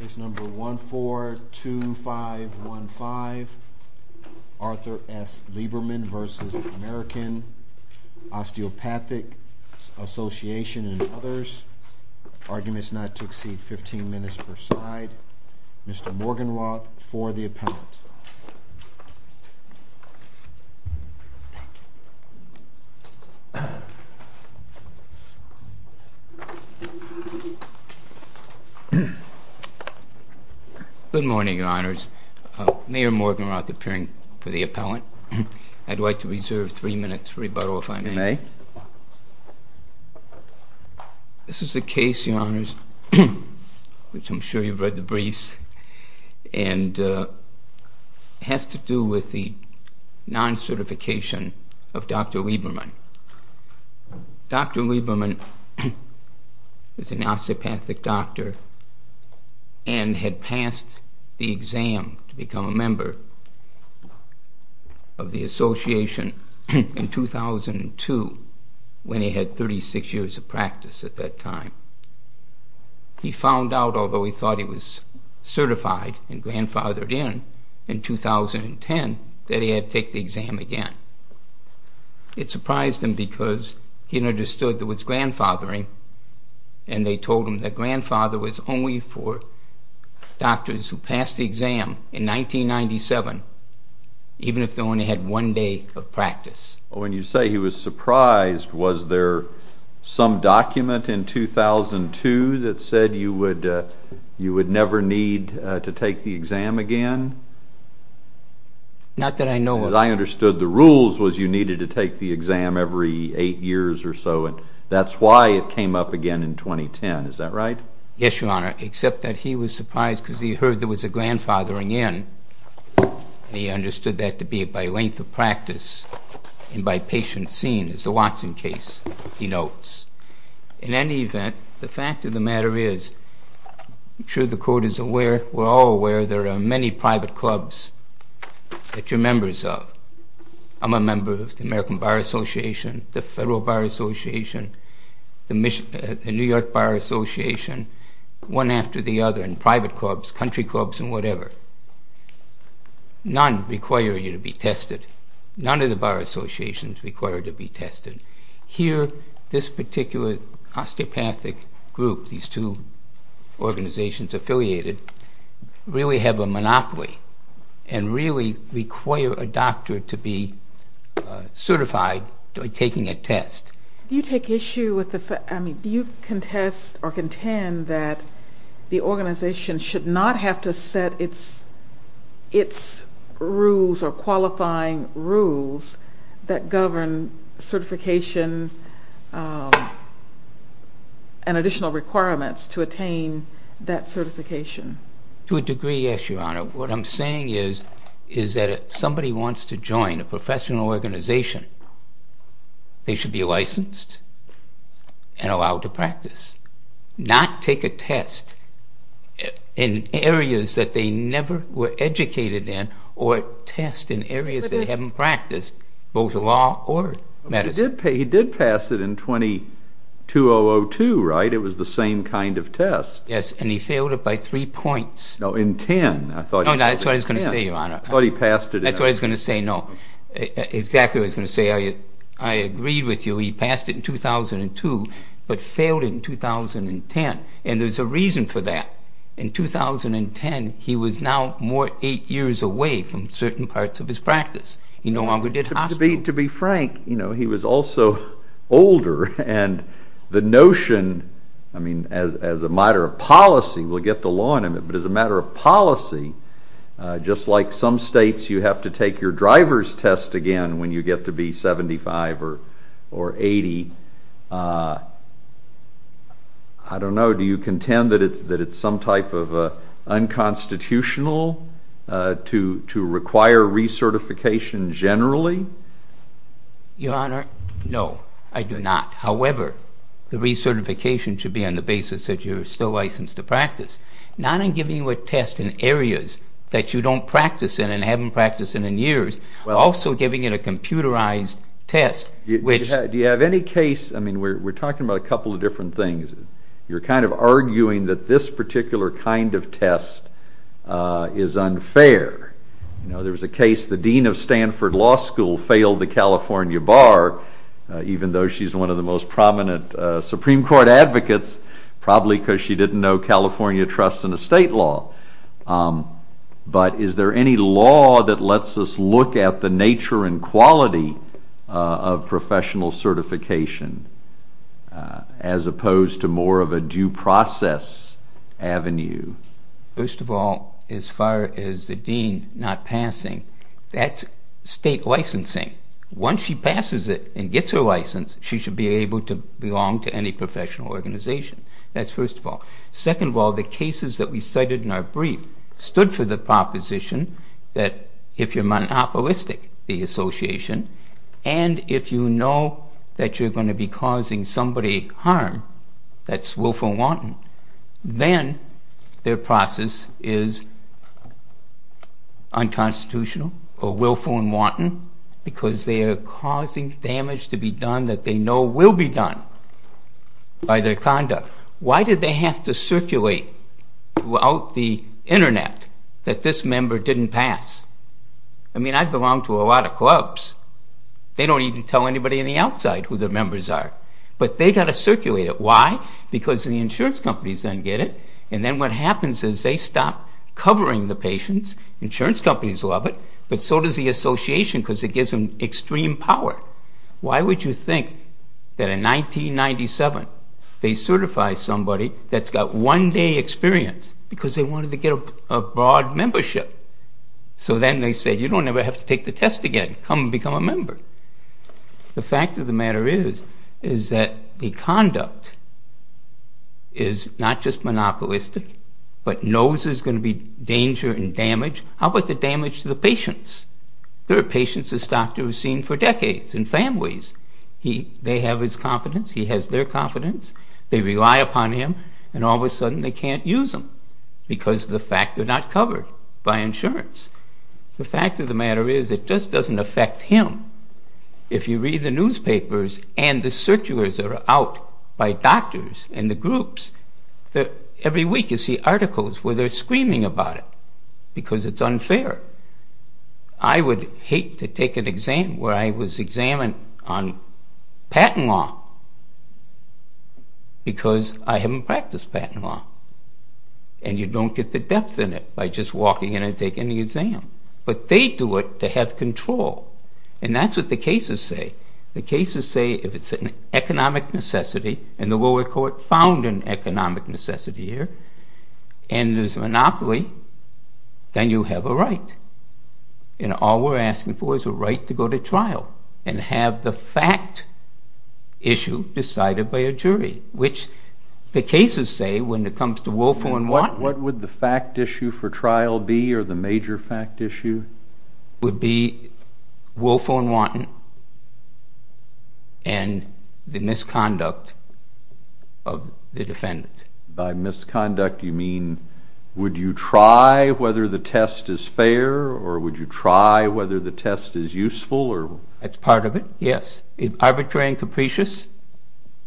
Arguments not to exceed 15 minutes per side. Mr. Morgan Roth for the appellate. It's number 142515 Arthur S. Lieberman v. American Osteopathic Association and others. Arguments not to exceed 15 minutes per side. Mr. Morgan Roth for the appellate. Thank you. Thank you. Good morning, your honors. Mayor Morgan Roth appearing for the appellate. I'd like to reserve three minutes for rebuttal, if I may. You may. This is a case, your honors, which I'm sure you've read the briefs, and has to do with the non-certification of Dr. Lieberman. Dr. Lieberman was an osteopathic doctor and had passed the exam to become a member of the association in 2002, when he had 36 years of practice at that time. He found out, although he thought he was certified and grandfathered in, in 2010 that he had to take the exam again. It surprised him because he understood there was grandfathering, and they told him that grandfather was only for doctors who passed the exam in 1997, even if they only had one day of practice. When you say he was surprised, was there some document in 2002 that said you would never need to take the exam again? As far as I understood, the rules was you needed to take the exam every eight years or so, and that's why it came up again in 2010. Is that right? Yes, your honor, except that he was surprised because he heard there was a grandfathering in, and he understood that to be by length of practice and by patient seen, as the Watson case denotes. In any event, the fact of the matter is, I'm sure the court is aware, we're all aware, there are many private clubs that you're members of. I'm a member of the American Bar Association, the Federal Bar Association, the New York Bar Association, one after the other, and private clubs, country clubs, and whatever. None require you to be tested. None of the bar associations require you to be tested. Here, this particular osteopathic group, these two organizations affiliated, really have a monopoly and really require a doctor to be certified by taking a test. Do you contest or contend that the organization should not have to set its rules or qualifying rules that govern certification and additional requirements to attain that certification? To a degree, yes, your honor. What I'm saying is that if somebody wants to join a professional organization, they should be licensed and allowed to practice, not take a test in areas that they never were educated in or test in areas they haven't practiced, both law or medicine. But he did pass it in 22002, right? It was the same kind of test. Yes, and he failed it by three points. No, in 10. No, that's what I was going to say, your honor. I thought he passed it in 10. That's what I was going to say, no. Exactly what I was going to say. I agreed with you. He passed it in 2002, but failed it in 2010. And there's a reason for that. In 2010, he was now more eight years away from certain parts of his practice. He no longer did hospital. To be frank, he was also older, and the notion, as a matter of policy, we'll get the law in a minute, but as a matter of policy, just like some states, you have to take your driver's test again when you get to be 75 or 80. I don't know. Do you contend that it's some type of unconstitutional to require recertification generally? Your honor, no, I do not. However, the recertification should be on the basis that you're still licensed to practice, not in giving you a test in areas that you don't practice in and haven't practiced in in years, also giving it a computerized test. Do you have any case, I mean, we're talking about a couple of different things. You're kind of arguing that this particular kind of test is unfair. There was a case, the dean of Stanford Law School failed the California bar, even though she's one of the most prominent Supreme Court advocates, probably because she didn't know California trusts in the state law. But is there any law that lets us look at the nature and quality of professional certification as opposed to more of a due process avenue? First of all, as far as the dean not passing, that's state licensing. Once she passes it and gets her license, she should be able to belong to any professional organization. That's first of all. Second of all, the cases that we cited in our brief stood for the proposition that if you're monopolistic, the association, and if you know that you're going to be causing somebody harm, that's willful and wanton, then their process is unconstitutional or willful and wanton because they are causing damage to be done that they know will be done by their conduct. Why did they have to circulate throughout the internet that this member didn't pass? I mean, I belong to a lot of clubs. They don't even tell anybody on the outside who their members are, but they got to circulate it. Why? Because the insurance companies then get it, and then what happens is they stop covering the patients. Insurance companies love it, but so does the association because it gives them extreme power. Why would you think that in 1997 they certify somebody that's got one day experience because they wanted to get a broad membership? So then they said, you don't ever have to take the test again. Come and become a member. The fact of the matter is that the conduct is not just monopolistic, but knows there's going to be danger and damage. How about the damage to the patients? There are patients this doctor has seen for decades and families. They have his confidence. He has their confidence. They rely upon him, and all of a sudden they can't use him because of the fact they're not covered by insurance. The fact of the matter is it just doesn't affect him. If you read the newspapers and the circulars are out by doctors and the groups, every week you see articles where they're screaming about it because it's unfair. I would hate to take an exam where I was examined on patent law because I haven't practiced patent law, and you don't get the depth in it by just walking in and taking the exam. But they do it to have control, and that's what the cases say. The cases say if it's an economic necessity, and the lower court found an economic necessity here, and there's a monopoly, then you have a right. And all we're asking for is a right to go to trial and have the fact issue decided by a jury, which the cases say when it comes to Wolfo and Watten. What would the fact issue for trial be or the major fact issue? It would be Wolfo and Watten and the misconduct of the defendant. By misconduct, you mean would you try whether the test is fair, or would you try whether the test is useful? That's part of it, yes. Arbitrary and capricious,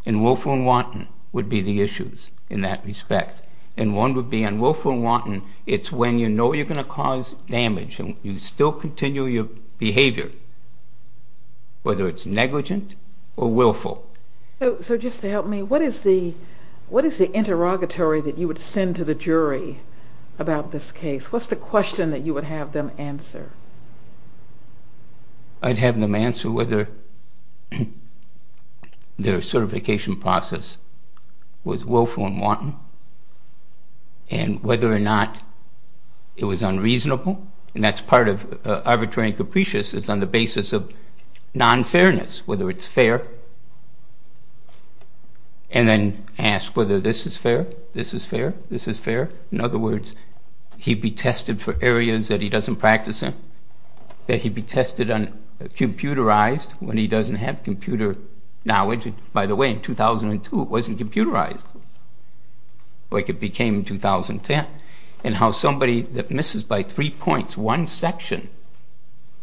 and Wolfo and Watten would be the issues in that respect. And one would be on Wolfo and Watten, it's when you know you're going to cause damage and you still continue your behavior, whether it's negligent or willful. So just to help me, what is the interrogatory that you would send to the jury about this case? What's the question that you would have them answer? I'd have them answer whether their certification process was willful and wanton, and whether or not it was unreasonable, and that's part of arbitrary and capricious, it's on the basis of non-fairness, whether it's fair, and then ask whether this is fair, this is fair, this is fair. In other words, he'd be tested for areas that he doesn't practice in, that he'd be tested on computerized when he doesn't have computer knowledge. By the way, in 2002 it wasn't computerized, like it became in 2010. And how somebody that misses by three points one section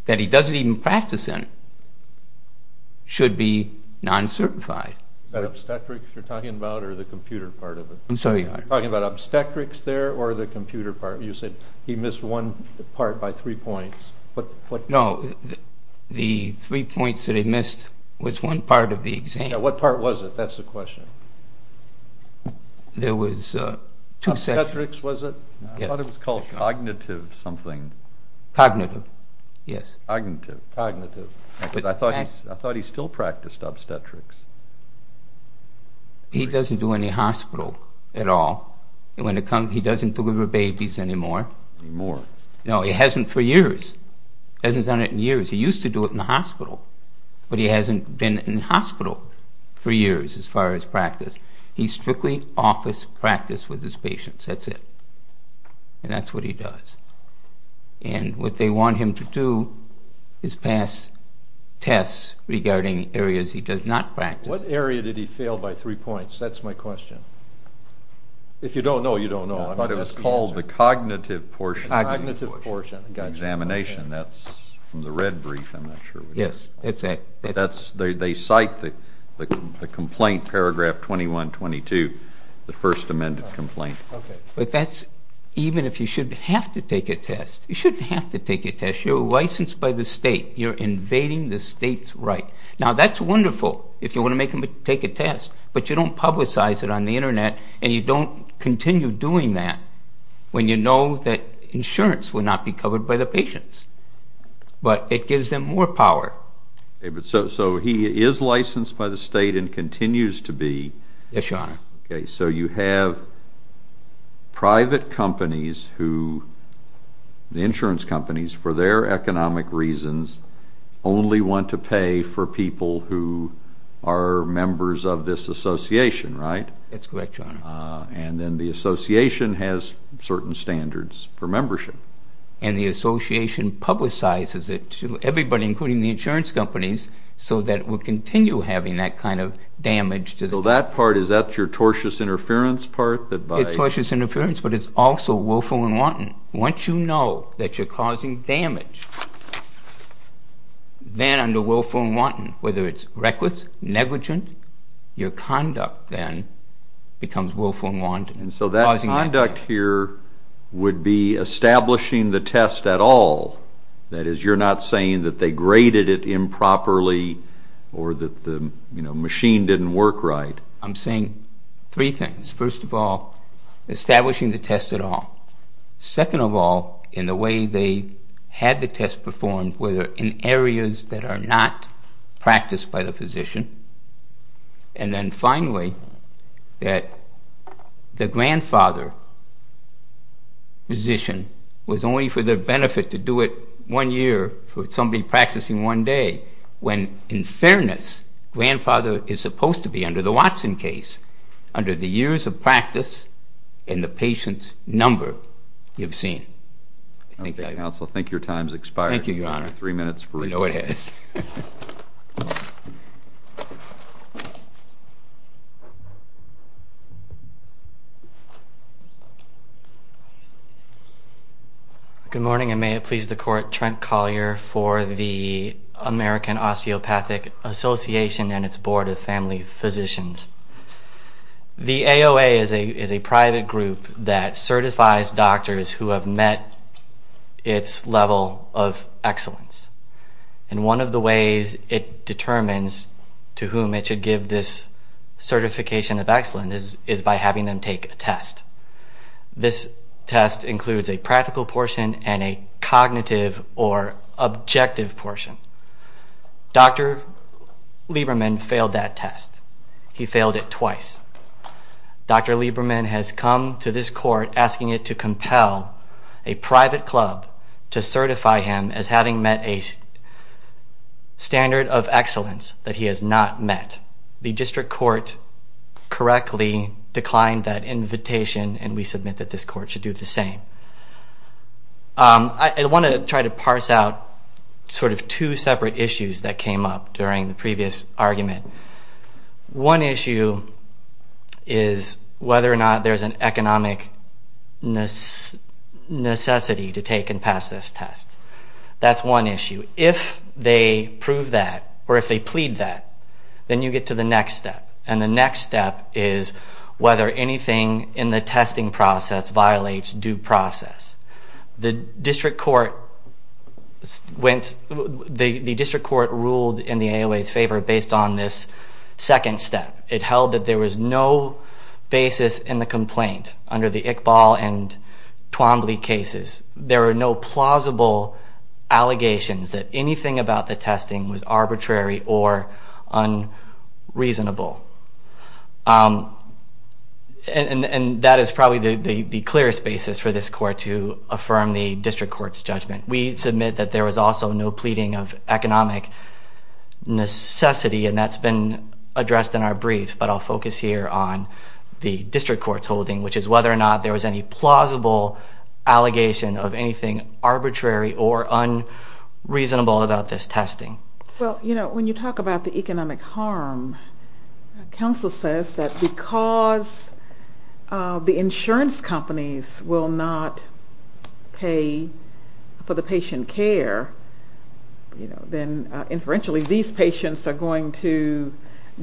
that he doesn't even practice in should be non-certified. Is that obstetrics you're talking about, or the computer part of it? I'm sorry? Are you talking about obstetrics there, or the computer part? You said he missed one part by three points. No, the three points that he missed was one part of the exam. Yeah, what part was it? That's the question. There was two sections. Obstetrics was it? Yes. I thought it was called cognitive something. Cognitive, yes. Cognitive, cognitive. I thought he still practiced obstetrics. He doesn't do any hospital at all. He doesn't deliver babies anymore. Anymore. No, he hasn't for years. He hasn't done it in years. He used to do it in the hospital, but he hasn't been in hospital for years as far as practice. He strictly office practice with his patients, that's it. And that's what he does. And what they want him to do is pass tests regarding areas he does not practice. What area did he fail by three points? That's my question. If you don't know, you don't know. I thought it was called the cognitive portion of the examination. That's from the red brief, I'm not sure. Yes, that's it. They cite the complaint, paragraph 21-22, the first amended complaint. But that's even if you shouldn't have to take a test. You shouldn't have to take a test. You're licensed by the state. You're invading the state's right. Now that's wonderful if you want to make them take a test, but you don't publicize it on the internet and you don't continue doing that when you know that insurance will not be covered by the patients. But it gives them more power. So he is licensed by the state and continues to be. Yes, Your Honor. Okay, so you have private companies who, the insurance companies for their economic reasons, only want to pay for people who are members of this association, right? That's correct, Your Honor. And then the association has certain standards for membership. And the association publicizes it to everybody, including the insurance companies, so that it will continue having that kind of damage. So that part, is that your tortious interference part? It's tortious interference, but it's also willful and wanton. Once you know that you're causing damage, then under willful and wanton, whether it's reckless, negligent, your conduct then becomes willful and wanton. And so that conduct here would be establishing the test at all. That is, you're not saying that they graded it improperly or that the machine didn't work right. I'm saying three things. First of all, establishing the test at all. Second of all, in the way they had the test performed, whether in areas that are not practiced by the physician. And then finally, that the grandfather physician was only for their benefit to do it one year for somebody practicing one day, when in fairness, grandfather is supposed to be under the Watson case, under the years of practice and the patient's number you've seen. Okay, counsel, I think your time's expired. Thank you, Your Honor. You have three minutes for reading. I know it has. Thank you. Good morning, and may it please the Court. Trent Collier for the American Osteopathic Association and its Board of Family Physicians. The AOA is a private group that certifies doctors who have met its level of excellence. And one of the ways it determines to whom it should give this certification of excellence is by having them take a test. This test includes a practical portion and a cognitive or objective portion. Dr. Lieberman failed that test. He failed it twice. Dr. Lieberman has come to this Court asking it to compel a private club to certify him as having met a standard of excellence that he has not met. The District Court correctly declined that invitation, and we submit that this Court should do the same. I want to try to parse out sort of two separate issues that came up during the previous argument. One issue is whether or not there's an economic necessity to take and pass this test. That's one issue. If they prove that or if they plead that, then you get to the next step, and the next step is whether anything in the testing process violates due process. The District Court ruled in the AOA's favor based on this second step. It held that there was no basis in the complaint under the Iqbal and Twombly cases. There are no plausible allegations that anything about the testing was arbitrary or unreasonable. And that is probably the clearest basis for this Court to affirm the District Court's judgment. We submit that there was also no pleading of economic necessity, and that's been addressed in our briefs, but I'll focus here on the District Court's holding, which is whether or not there was any plausible allegation of anything arbitrary or unreasonable about this testing. Well, you know, when you talk about the economic harm, counsel says that because the insurance companies will not pay for the patient care, then inferentially these patients are going to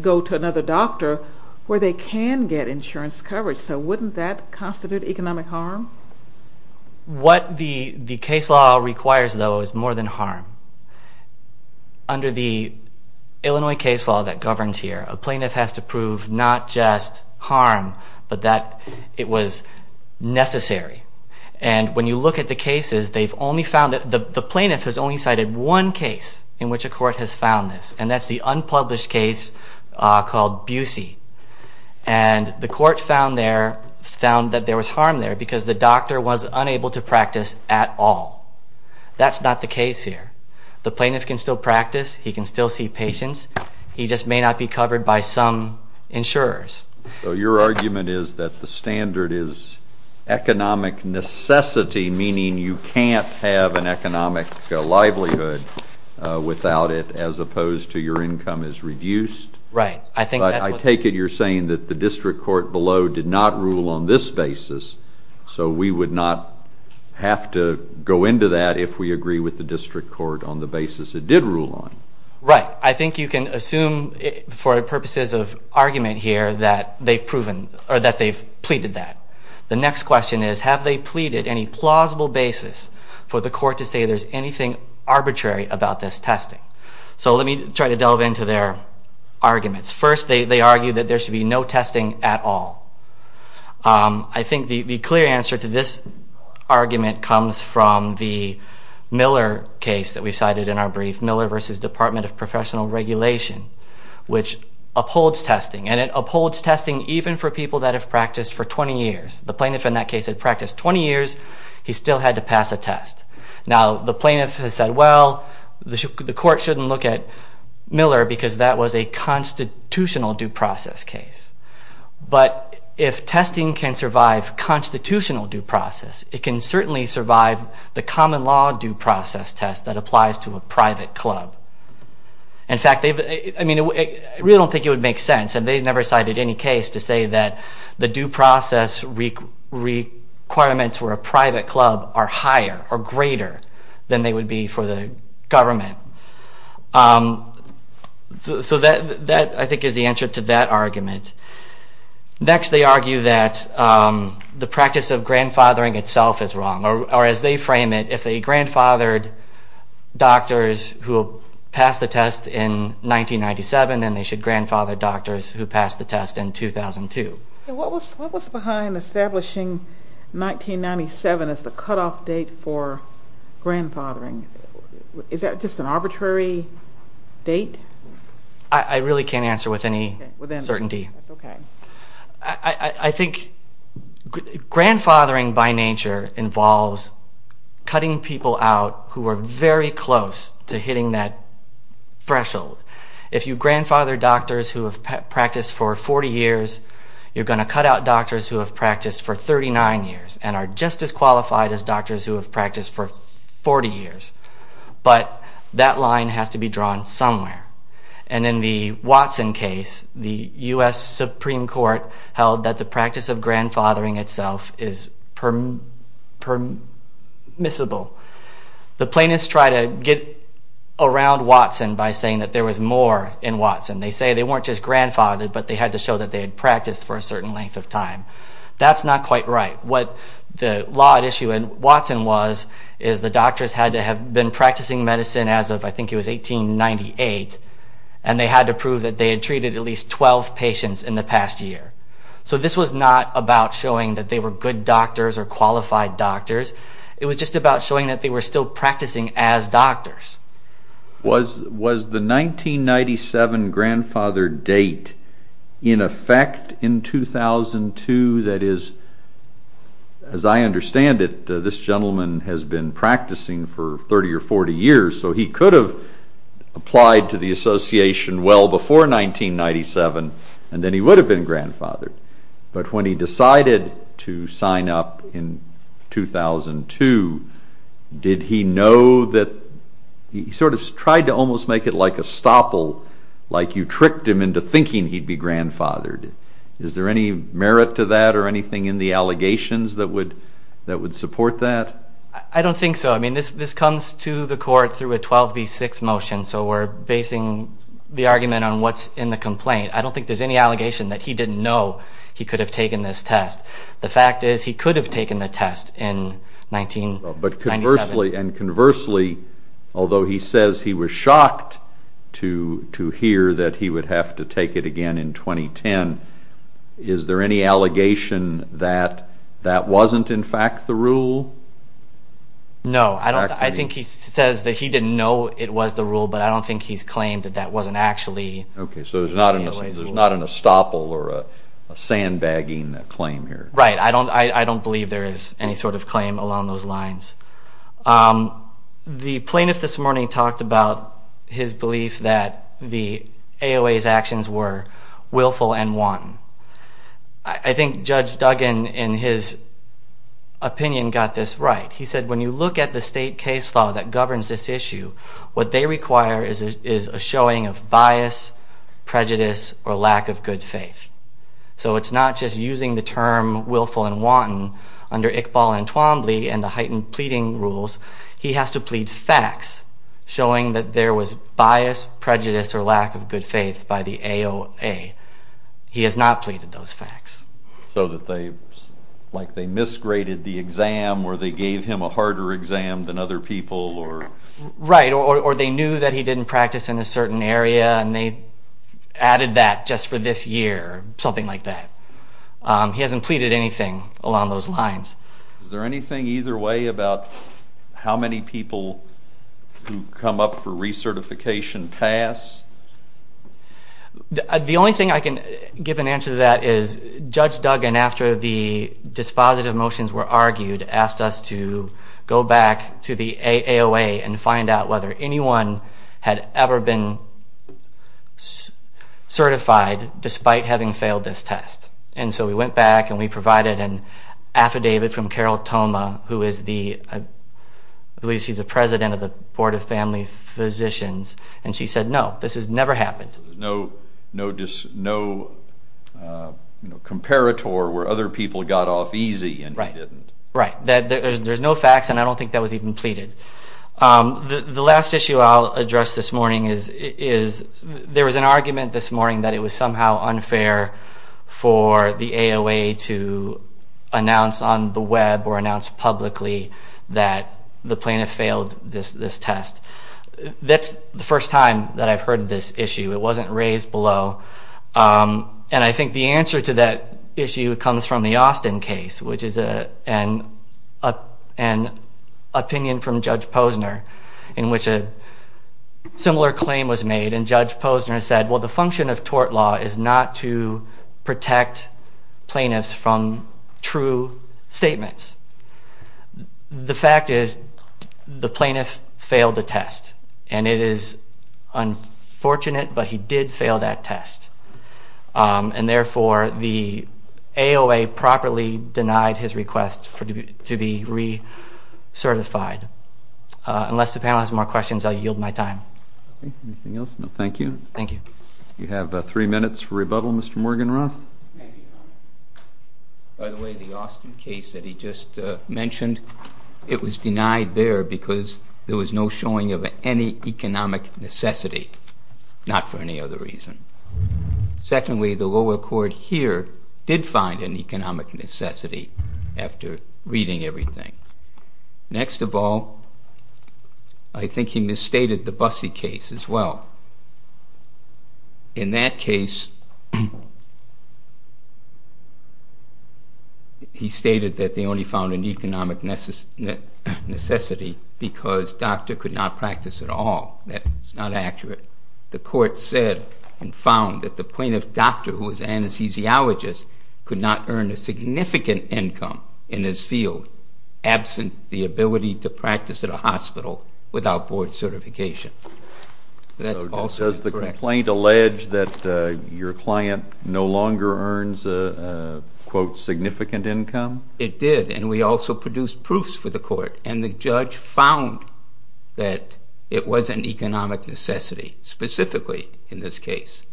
go to another doctor where they can get insurance coverage. So wouldn't that constitute economic harm? What the case law requires, though, is more than harm. Under the Illinois case law that governs here, a plaintiff has to prove not just harm, but that it was necessary. And when you look at the cases, they've only found that the plaintiff has only cited one case in which a court has found this, and that's the unpublished case called Busey. And the court found that there was harm there because the doctor was unable to practice at all. That's not the case here. The plaintiff can still practice. He can still see patients. He just may not be covered by some insurers. So your argument is that the standard is economic necessity, meaning you can't have an economic livelihood without it as opposed to your income is reduced? Right. But I take it you're saying that the district court below did not rule on this basis, so we would not have to go into that if we agree with the district court on the basis it did rule on. Right. I think you can assume for purposes of argument here that they've proven or that they've pleaded that. The next question is, have they pleaded any plausible basis for the court to say there's anything arbitrary about this testing? So let me try to delve into their arguments. First, they argue that there should be no testing at all. I think the clear answer to this argument comes from the Miller case that we cited in our brief, Miller v. Department of Professional Regulation, which upholds testing, and it upholds testing even for people that have practiced for 20 years. The plaintiff in that case had practiced 20 years. He still had to pass a test. Now, the plaintiff has said, well, the court shouldn't look at Miller because that was a constitutional due process case. But if testing can survive constitutional due process, it can certainly survive the common law due process test that applies to a private club. In fact, I mean, I really don't think it would make sense, and they never cited any case to say that the due process requirements for a private club are higher or greater than they would be for the government. So that, I think, is the answer to that argument. Next, they argue that the practice of grandfathering itself is wrong, or as they frame it, if they grandfathered doctors who passed the test in 1997, then they should grandfather doctors who passed the test in 2002. What was behind establishing 1997 as the cutoff date for grandfathering? Is that just an arbitrary date? I really can't answer with any certainty. I think grandfathering by nature involves cutting people out who are very close to hitting that threshold. If you grandfather doctors who have practiced for 40 years, you're going to cut out doctors who have practiced for 39 years and are just as qualified as doctors who have practiced for 40 years. But that line has to be drawn somewhere. And in the Watson case, the U.S. Supreme Court held that the practice of grandfathering itself is permissible. The plaintiffs try to get around Watson by saying that there was more in Watson. They say they weren't just grandfathered, but they had to show that they had practiced for a certain length of time. That's not quite right. What the law at issue in Watson was, is the doctors had to have been practicing medicine as of, I think it was, 1898, and they had to prove that they had treated at least 12 patients in the past year. So this was not about showing that they were good doctors or qualified doctors. It was just about showing that they were still practicing as doctors. Was the 1997 grandfather date in effect in 2002? That is, as I understand it, this gentleman has been practicing for 30 or 40 years, so he could have applied to the association well before 1997, and then he would have been grandfathered. But when he decided to sign up in 2002, did he know that he sort of tried to almost make it like a stopple, like you tricked him into thinking he'd be grandfathered? Is there any merit to that or anything in the allegations that would support that? I don't think so. I mean, this comes to the court through a 12B6 motion, so we're basing the argument on what's in the complaint. I don't think there's any allegation that he didn't know he could have taken this test. The fact is he could have taken the test in 1997. But conversely, and conversely, although he says he was shocked to hear that he would have to take it again in 2010, is there any allegation that that wasn't in fact the rule? No. I think he says that he didn't know it was the rule, but I don't think he's claimed that that wasn't actually. Okay, so there's not an estoppel or a sandbagging claim here. Right. I don't believe there is any sort of claim along those lines. The plaintiff this morning talked about his belief that the AOA's actions were willful and wanton. I think Judge Duggan, in his opinion, got this right. He said when you look at the state case law that governs this issue, what they require is a showing of bias, prejudice, or lack of good faith. So it's not just using the term willful and wanton under Iqbal and Twombly and the heightened pleading rules. He has to plead facts showing that there was bias, prejudice, or lack of good faith by the AOA. He has not pleaded those facts. So like they misgraded the exam or they gave him a harder exam than other people? Right, or they knew that he didn't practice in a certain area and they added that just for this year or something like that. He hasn't pleaded anything along those lines. Is there anything either way about how many people who come up for recertification pass? The only thing I can give an answer to that is Judge Duggan, after the dispositive motions were argued, asked us to go back to the AOA and find out whether anyone had ever been certified despite having failed this test. And so we went back and we provided an affidavit from Carol Thoma, who is the president of the Board of Family Physicians, and she said no, this has never happened. So there's no comparator where other people got off easy and he didn't. Right, there's no facts and I don't think that was even pleaded. The last issue I'll address this morning is there was an argument this morning that it was somehow unfair for the AOA to announce on the Web or announce publicly that the plaintiff failed this test. That's the first time that I've heard this issue. It wasn't raised below. And I think the answer to that issue comes from the Austin case, which is an opinion from Judge Posner in which a similar claim was made. And Judge Posner said, well, the function of tort law is not to protect plaintiffs from true statements. The fact is the plaintiff failed the test. And it is unfortunate, but he did fail that test. And therefore, the AOA properly denied his request to be recertified. Unless the panel has more questions, I'll yield my time. Anything else? No, thank you. Thank you. You have three minutes for rebuttal, Mr. Morganroth. By the way, the Austin case that he just mentioned, it was denied there because there was no showing of any economic necessity, not for any other reason. Secondly, the lower court here did find an economic necessity after reading everything. Next of all, I think he misstated the Busse case as well. In that case, he stated that they only found an economic necessity because doctor could not practice at all. That's not accurate. The court said and found that the plaintiff doctor who was an anesthesiologist could not earn a significant income in his field absent the ability to practice at a hospital without board certification. Does the complaint allege that your client no longer earns a, quote, significant income? It did, and we also produced proofs for the court. And the judge found that it was an economic necessity, specifically in this case.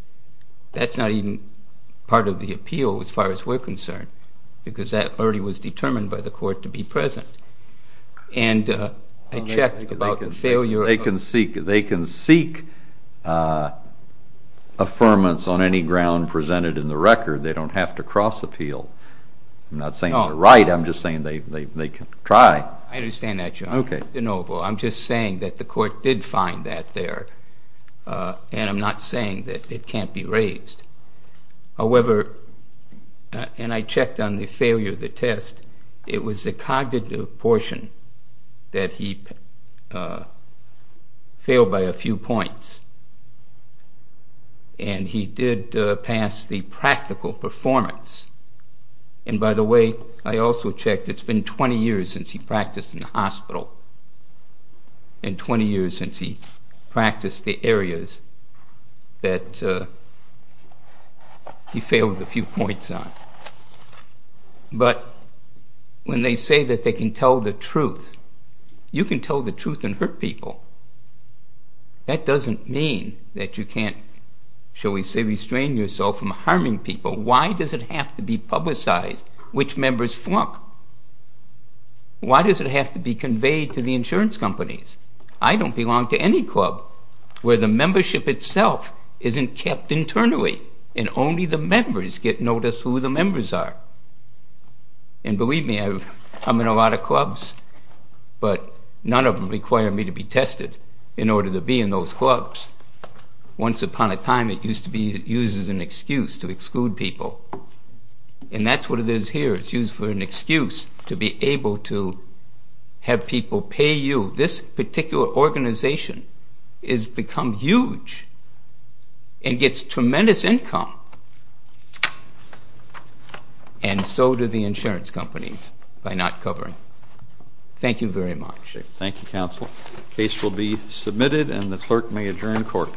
That's not even part of the appeal as far as we're concerned because that already was determined by the court to be present. And I checked about the failure. They can seek affirmance on any ground presented in the record. They don't have to cross-appeal. I'm not saying they're right. I'm just saying they can try. I understand that, Your Honor. Mr. DeNovo, I'm just saying that the court did find that there, and I'm not saying that it can't be raised. However, and I checked on the failure of the test, it was the cognitive portion that he failed by a few points, and he did pass the practical performance. And by the way, I also checked. It's been 20 years since he practiced in a hospital and 20 years since he practiced the areas that he failed a few points on. But when they say that they can tell the truth, you can tell the truth and hurt people. That doesn't mean that you can't, shall we say, restrain yourself from harming people. Why does it have to be publicized which members flunk? Why does it have to be conveyed to the insurance companies? I don't belong to any club where the membership itself isn't kept internally and only the members get noticed who the members are. And believe me, I'm in a lot of clubs, but none of them require me to be tested in order to be in those clubs. Once upon a time, it used to be used as an excuse to exclude people, and that's what it is here. It's used for an excuse to be able to have people pay you. This particular organization has become huge and gets tremendous income, and so do the insurance companies by not covering. Thank you very much. Thank you, Counsel. The case will be submitted, and the clerk may adjourn court.